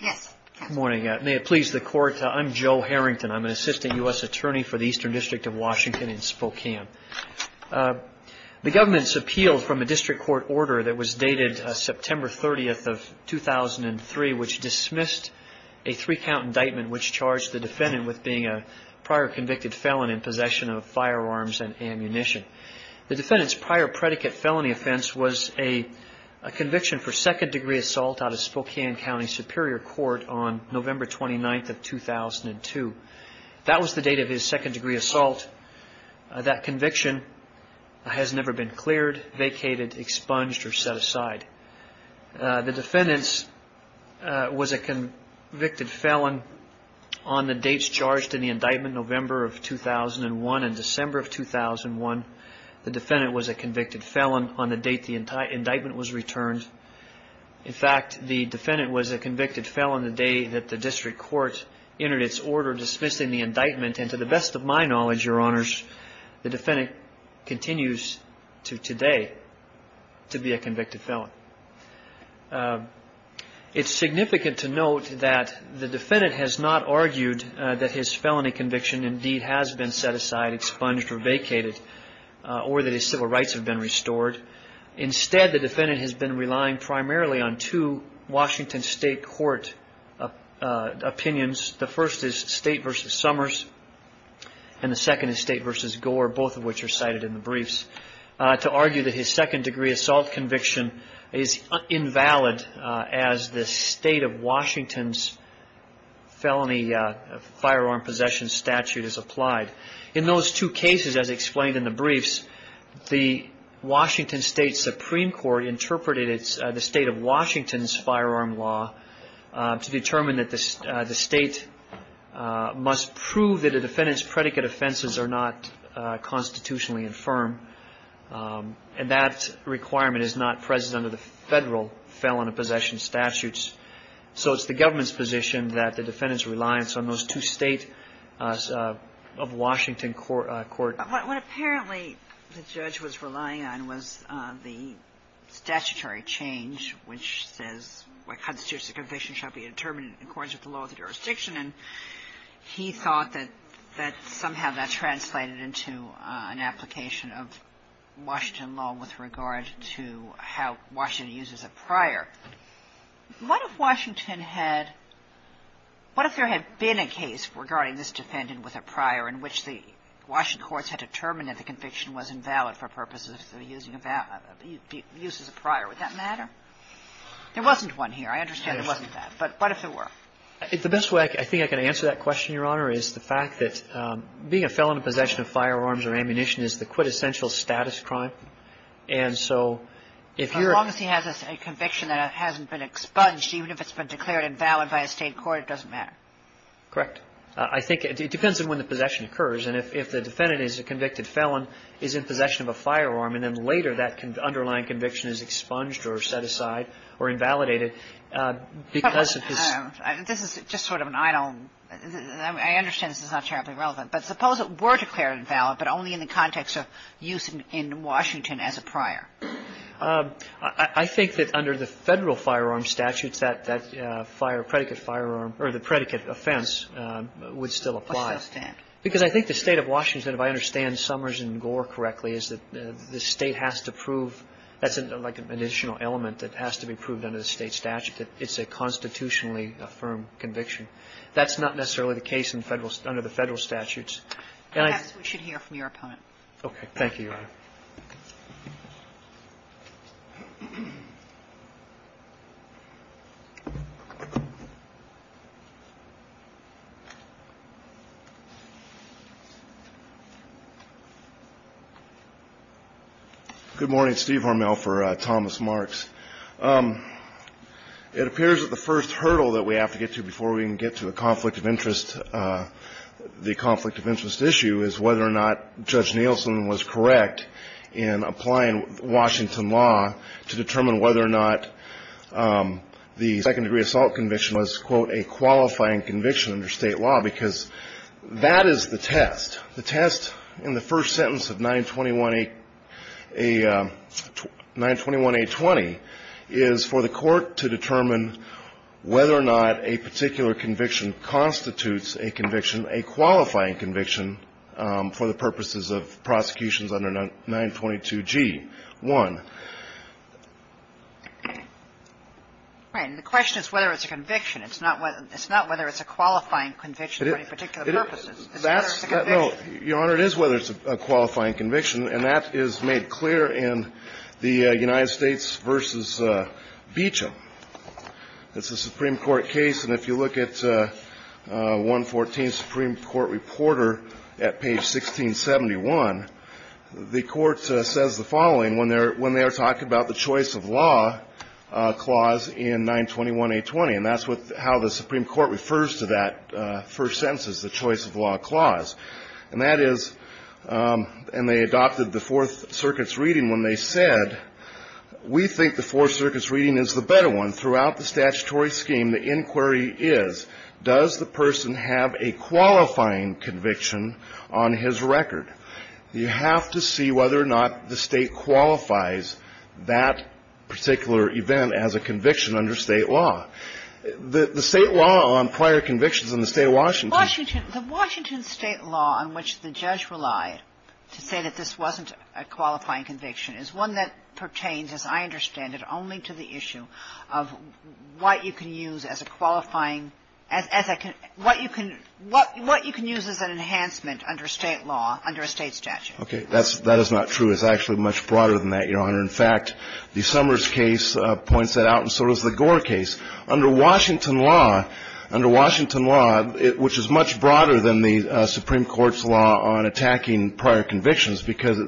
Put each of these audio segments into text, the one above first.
Good morning. May it please the Court, I'm Joe Harrington. I'm an assistant U.S. attorney for the Eastern District of Washington in Spokane. The government's appealed from a district court order that was dated September 30th of 2003, which dismissed a three-count indictment which charged the defendant with being a prior convicted felon in possession of firearms and ammunition. The defendant's prior predicate felony offense was a conviction for second-degree assault out of Spokane County Superior Court on November 29th of 2002. That was the date of his second-degree assault. That conviction has never been cleared, vacated, expunged, or set aside. The defendant was a convicted felon on the dates charged in the indictment, November of 2001 and December of 2001. The defendant was a convicted felon on the date the indictment was returned. In fact, the defendant was a convicted felon the day that the district court entered its order dismissing the indictment. And to the best of my knowledge, Your Honors, the defendant continues to today to be a convicted felon. It's significant to note that the defendant has not argued that his felony conviction indeed has been set aside, expunged, or vacated, or that his civil rights have been restored. Instead, the defendant has been relying primarily on two Washington State Court opinions. The first is State v. Summers, and the second is State v. Gore, both of which are cited in the briefs, to argue that his second-degree assault conviction is invalid as the State of Washington's felony firearm possession statute is applied. In those two cases, as explained in the briefs, the Washington State Supreme Court interpreted the State of Washington's firearm law to determine that the State must prove that a defendant's predicate offenses are not constitutionally infirm, and that requirement is not present under the federal felony possession statutes. So it's the government's position that the defendant's reliance on those two State of Washington court opinions. But what apparently the judge was relying on was the statutory change, which says what constitutes a conviction shall be determined in accordance with the law of the jurisdiction. And he thought that somehow that translated into an application of Washington law with regard to how Washington uses it prior. What if Washington had — what if there had been a case regarding this defendant with a prior in which the Washington courts had determined that the conviction was invalid for purposes of using a — uses a prior? Would that matter? There wasn't one here. I understand there wasn't that. But what if there were? The best way I think I can answer that question, Your Honor, is the fact that being a felon in possession of firearms or ammunition is the quintessential status crime. And so if you're — If it's a conviction that hasn't been expunged, even if it's been declared invalid by a State court, it doesn't matter. Correct. I think it depends on when the possession occurs. And if the defendant is a convicted felon, is in possession of a firearm, and then later that underlying conviction is expunged or set aside or invalidated because of his — This is just sort of an idle — I understand this is not terribly relevant. But suppose it were declared invalid, but only in the context of use in Washington as a prior. I think that under the Federal firearm statutes, that — that fire — predicate firearm or the predicate offense would still apply. Why should that stand? Because I think the State of Washington, if I understand Summers and Gore correctly, is that the State has to prove — that's like an additional element that has to be proved under the State statute that it's a constitutionally affirmed conviction. That's not necessarily the case in Federal — under the Federal statutes. Okay. Thank you, Your Honor. Thank you. Good morning. Steve Hormel for Thomas Marks. It appears that the first hurdle that we have to get to before we can get to a conflict of interest, the conflict of interest issue, is whether or not Judge Nielsen was correct in applying Washington law to determine whether or not the second-degree assault conviction was, quote, a qualifying conviction under State law, because that is the test. The test in the first sentence of 921-820 is for the court to determine whether or not a particular conviction constitutes a conviction, a qualifying conviction, for the purposes of prosecutions under 922g-1. Right. And the question is whether it's a conviction. It's not whether it's a qualifying conviction for any particular purposes. It is. It's whether it's a conviction. No. Your Honor, it is whether it's a qualifying conviction. And that is made clear in the United States v. Beecham. It's a Supreme Court case. And if you look at 114, Supreme Court reporter at page 1671, the court says the following when they're talking about the choice of law clause in 921-820. And that's how the Supreme Court refers to that first sentence, the choice of law clause. And that is, and they adopted the Fourth Circuit's reading when they said, we think the Fourth Circuit's reading is the better one. Throughout the statutory scheme, the inquiry is, does the person have a qualifying conviction on his record? You have to see whether or not the State qualifies that particular event as a conviction under State law. The State law on prior convictions in the State of Washington. The Washington State law on which the judge relied to say that this wasn't a qualifying conviction is one that pertains, as I understand it, only to the issue of what you can use as a qualifying, what you can use as an enhancement under State law, under a State statute. Okay. That is not true. It's actually much broader than that, Your Honor. In fact, the Summers case points that out, and so does the Gore case. Under Washington law, under Washington law, which is much broader than the Supreme Court's law on attacking prior convictions, because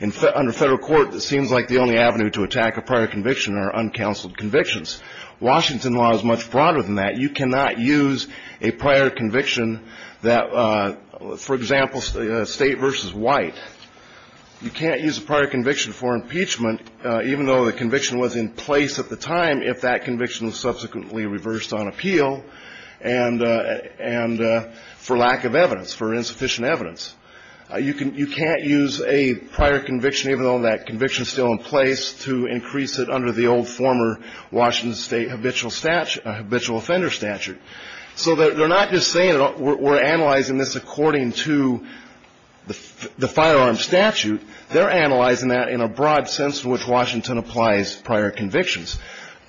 under Federal court, it seems like the only avenue to attack a prior conviction are uncounseled convictions. Washington law is much broader than that. You cannot use a prior conviction that, for example, State v. White. You can't use a prior conviction for impeachment, even though the conviction was in place at the time, if that conviction was subsequently reversed on appeal and for lack of evidence, for insufficient evidence. You can't use a prior conviction, even though that conviction is still in place, to increase it under the old former Washington State habitual offender statute. So they're not just saying we're analyzing this according to the firearm statute. They're analyzing that in a broad sense in which Washington applies prior convictions.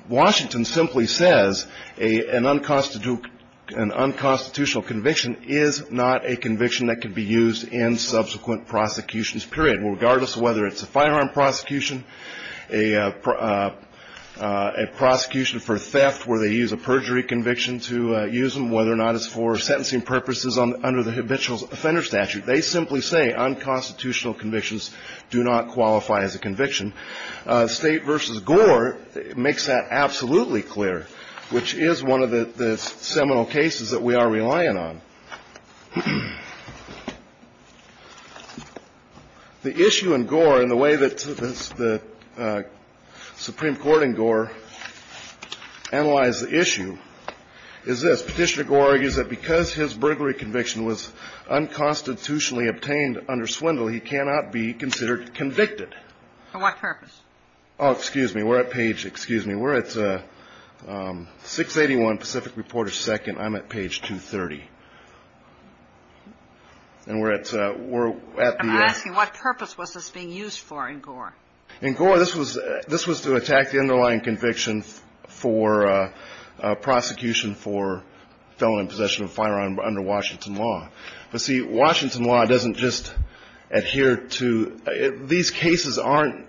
Washington simply says an unconstitutional conviction is not a conviction that can be used in subsequent prosecutions, period, regardless of whether it's a firearm prosecution, a prosecution for theft where they use a perjury conviction to use them, whether or not it's for sentencing purposes under the habitual offender statute. They simply say unconstitutional convictions do not qualify as a conviction. State v. Gore makes that absolutely clear, which is one of the seminal cases that we are relying on. The issue in Gore and the way that the Supreme Court in Gore analyzed the issue is this. Petitioner Gore argues that because his burglary conviction was unconstitutionally obtained under Swindle, he cannot be considered convicted. For what purpose? Oh, excuse me. We're at page – excuse me. We're at 681 Pacific Reporter 2nd. I'm at page 230. And we're at the – I'm asking what purpose was this being used for in Gore? In Gore, this was to attack the underlying conviction for prosecution for felon in possession of a firearm under Washington law. But, see, Washington law doesn't just adhere to – these cases aren't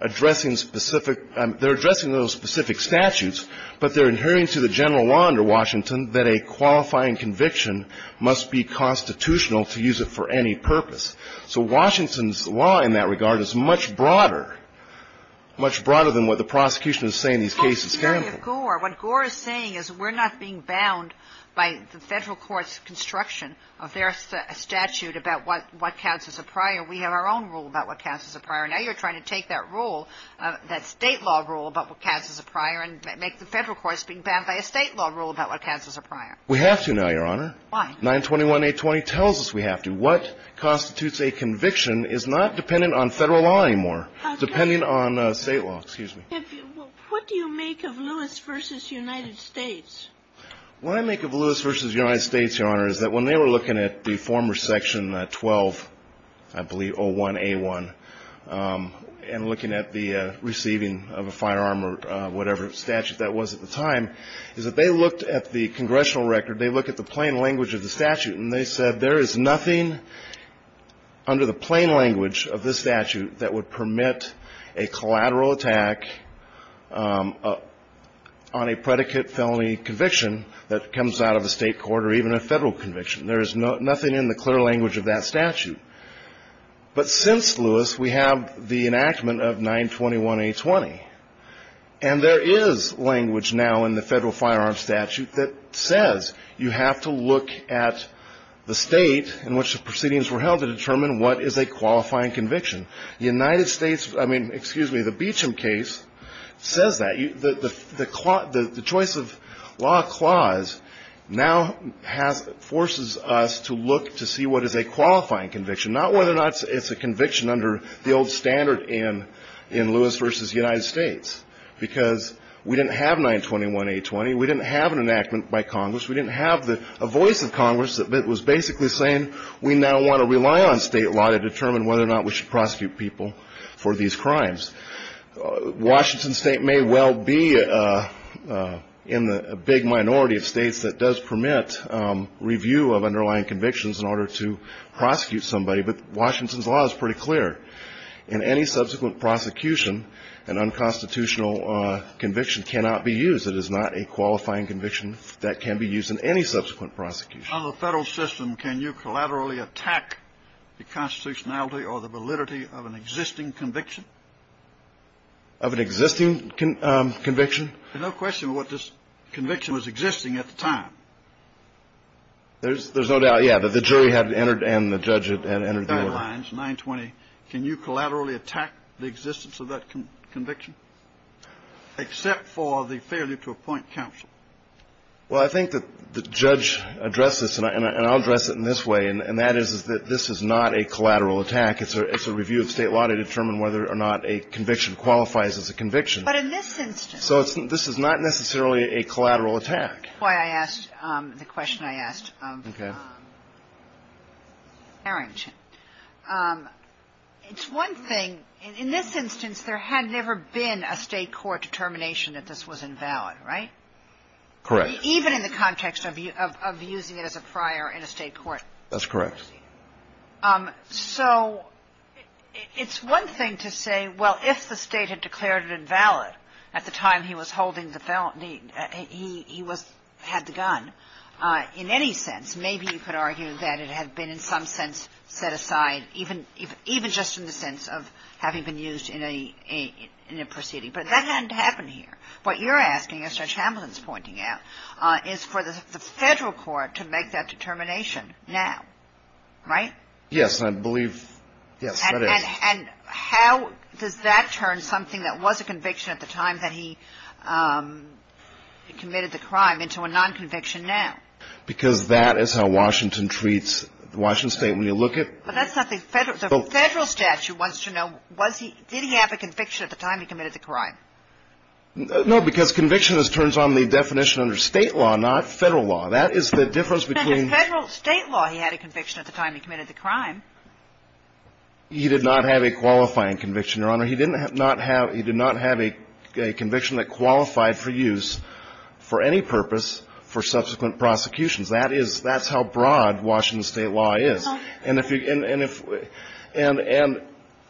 addressing specific – they're addressing those specific statutes, but they're adhering to the general law under Washington that a qualifying conviction must be constitutional to use it for any purpose. So Washington's law in that regard is much broader, much broader than what the prosecution is saying these cases stand for. Well, in the case of Gore, what Gore is saying is we're not being bound by the federal court's construction of their statute about what counts as a prior. We have our own rule about what counts as a prior. Now you're trying to take that rule, that state law rule about what counts as a prior and make the federal courts being bound by a state law rule about what counts as a prior. We have to now, Your Honor. Why? 921-820 tells us we have to. What constitutes a conviction is not dependent on federal law anymore. It's dependent on state law. Excuse me. What do you make of Lewis v. United States? What I make of Lewis v. United States, Your Honor, is that when they were looking at the former Section 12, I believe, 01A1, and looking at the receiving of a firearm or whatever statute that was at the time, is that they looked at the congressional record, they looked at the plain language of the statute, and they said there is nothing under the plain language of this statute that would permit a collateral attack on a predicate felony conviction. That comes out of a state court or even a federal conviction. There is nothing in the clear language of that statute. But since Lewis, we have the enactment of 921-820. And there is language now in the federal firearms statute that says you have to look at the state in which the proceedings were held to determine what is a qualifying conviction. United States, I mean, excuse me, the Beecham case says that. The choice of law clause now forces us to look to see what is a qualifying conviction, not whether or not it's a conviction under the old standard in Lewis v. United States. Because we didn't have 921-820. We didn't have an enactment by Congress. We didn't have a voice of Congress that was basically saying we now want to rely on state law to determine whether or not we should prosecute people for these crimes. Washington State may well be in the big minority of states that does permit review of underlying convictions in order to prosecute somebody. But Washington's law is pretty clear. In any subsequent prosecution, an unconstitutional conviction cannot be used. It is not a qualifying conviction that can be used in any subsequent prosecution. On the federal system, can you collaterally attack the constitutionality or the validity of an existing conviction? Of an existing conviction? There's no question what this conviction was existing at the time. There's no doubt, yeah, that the jury had entered and the judge had entered the order. 920, can you collaterally attack the existence of that conviction except for the failure to appoint counsel? Well, I think that the judge addressed this, and I'll address it in this way, and that is that this is not a collateral attack. It's a review of state law to determine whether or not a conviction qualifies as a conviction. But in this instance. So this is not necessarily a collateral attack. That's why I asked the question I asked of Harrington. It's one thing. In this instance, there had never been a state court determination that this was invalid, right? Correct. Even in the context of using it as a prior in a state court. That's correct. So it's one thing to say, well, if the state had declared it invalid at the time he was holding the felony, he had the gun. In any sense, maybe you could argue that it had been in some sense set aside, even just in the sense of having been used in a proceeding. But that hadn't happened here. What you're asking, as Judge Hamlin's pointing out, is for the federal court to make that determination now, right? Yes, I believe. Yes, that is. And how does that turn something that was a conviction at the time that he committed the crime into a non-conviction now? Because that is how Washington treats Washington State when you look at. But that's not the federal statute wants to know, did he have a conviction at the time he committed the crime? No, because conviction turns on the definition under state law, not federal law. That is the difference between. Under federal state law, he had a conviction at the time he committed the crime. He did not have a qualifying conviction, Your Honor. He did not have a conviction that qualified for use for any purpose for subsequent prosecutions. That is how broad Washington State law is. And if you – and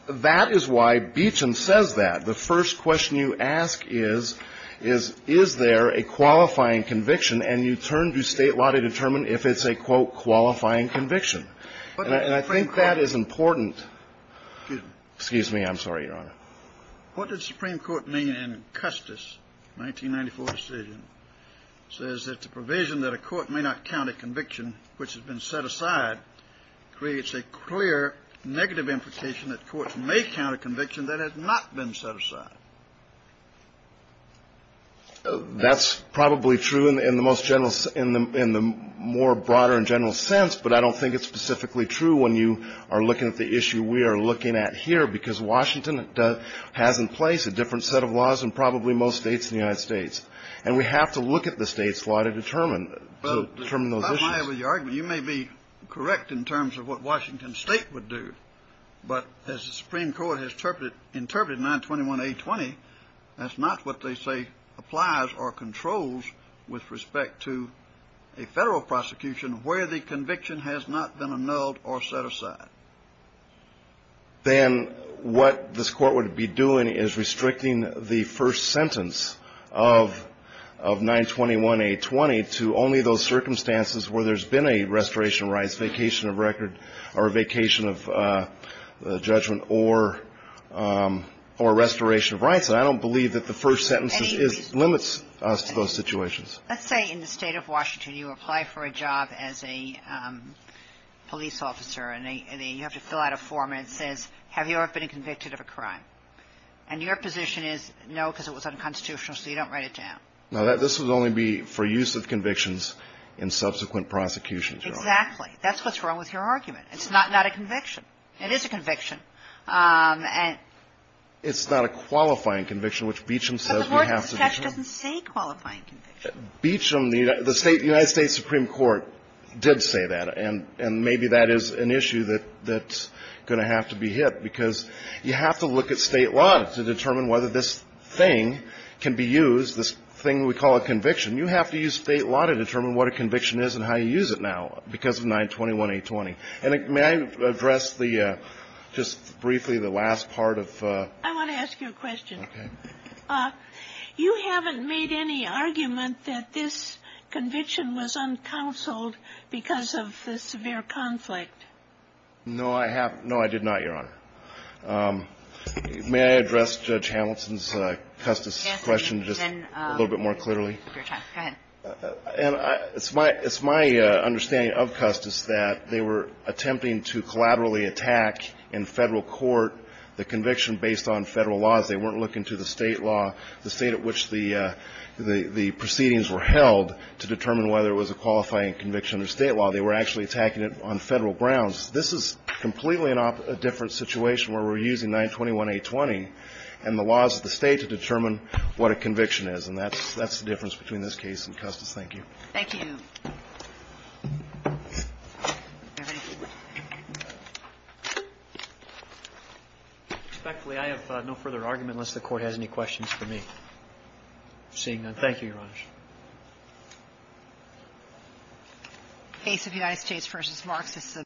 that is why Beechin says that. The first question you ask is, is there a qualifying conviction? And you turn to state law to determine if it's a, quote, qualifying conviction. And I think that is important. Excuse me. I'm sorry, Your Honor. What did the Supreme Court mean in Custis' 1994 decision? It says that the provision that a court may not count a conviction which has been set aside creates a clear negative implication that courts may count a conviction that has not been set aside. That's probably true in the most general – in the more broader and general sense, but I don't think it's specifically true when you are looking at the issue we are looking at here, because Washington has in place a different set of laws than probably most states in the United States. And we have to look at the state's law to determine those issues. Well, to come out of your argument, you may be correct in terms of what Washington State would do, but as the Supreme Court has interpreted 921A20, that's not what they say applies or controls with respect to a federal prosecution where the conviction has not been annulled or set aside. Then what this court would be doing is restricting the first sentence of 921A20 to only those circumstances where there's been a restoration of rights, vacation of record, or vacation of judgment, or restoration of rights. And I don't believe that the first sentence limits us to those situations. Let's say in the State of Washington you apply for a job as a police officer, and you have to fill out a form, and it says, have you ever been convicted of a crime? And your position is, no, because it was unconstitutional, so you don't write it down. Now, this would only be for use of convictions in subsequent prosecutions, Your Honor. Exactly. That's what's wrong with your argument. It's not a conviction. It is a conviction. It's not a qualifying conviction, which Beecham says we have to determine. But the court's statute doesn't say qualifying conviction. Beecham, the United States Supreme Court did say that, and maybe that is an issue that's going to have to be hit, because you have to look at state law to determine whether this thing can be used, this thing we call a conviction. You have to use state law to determine what a conviction is and how you use it now, because of 921-820. And may I address just briefly the last part of the question? I want to ask you a question. Okay. You haven't made any argument that this conviction was uncounseled because of the severe conflict. No, I have not. No, I did not, Your Honor. May I address Judge Hamilton's Custis question just a little bit more clearly? Go ahead. And it's my understanding of Custis that they were attempting to collaterally attack in Federal court the conviction based on Federal laws. They weren't looking to the state law, the state at which the proceedings were held, to determine whether it was a qualifying conviction or state law. They were actually attacking it on Federal grounds. This is completely a different situation where we're using 921-820 and the laws of the State to determine what a conviction is. And that's the difference between this case and Custis. Thank you. Thank you. Respectfully, I have no further argument unless the Court has any questions for me. Seeing none. Thank you, Your Honor. Thank you, Your Honor.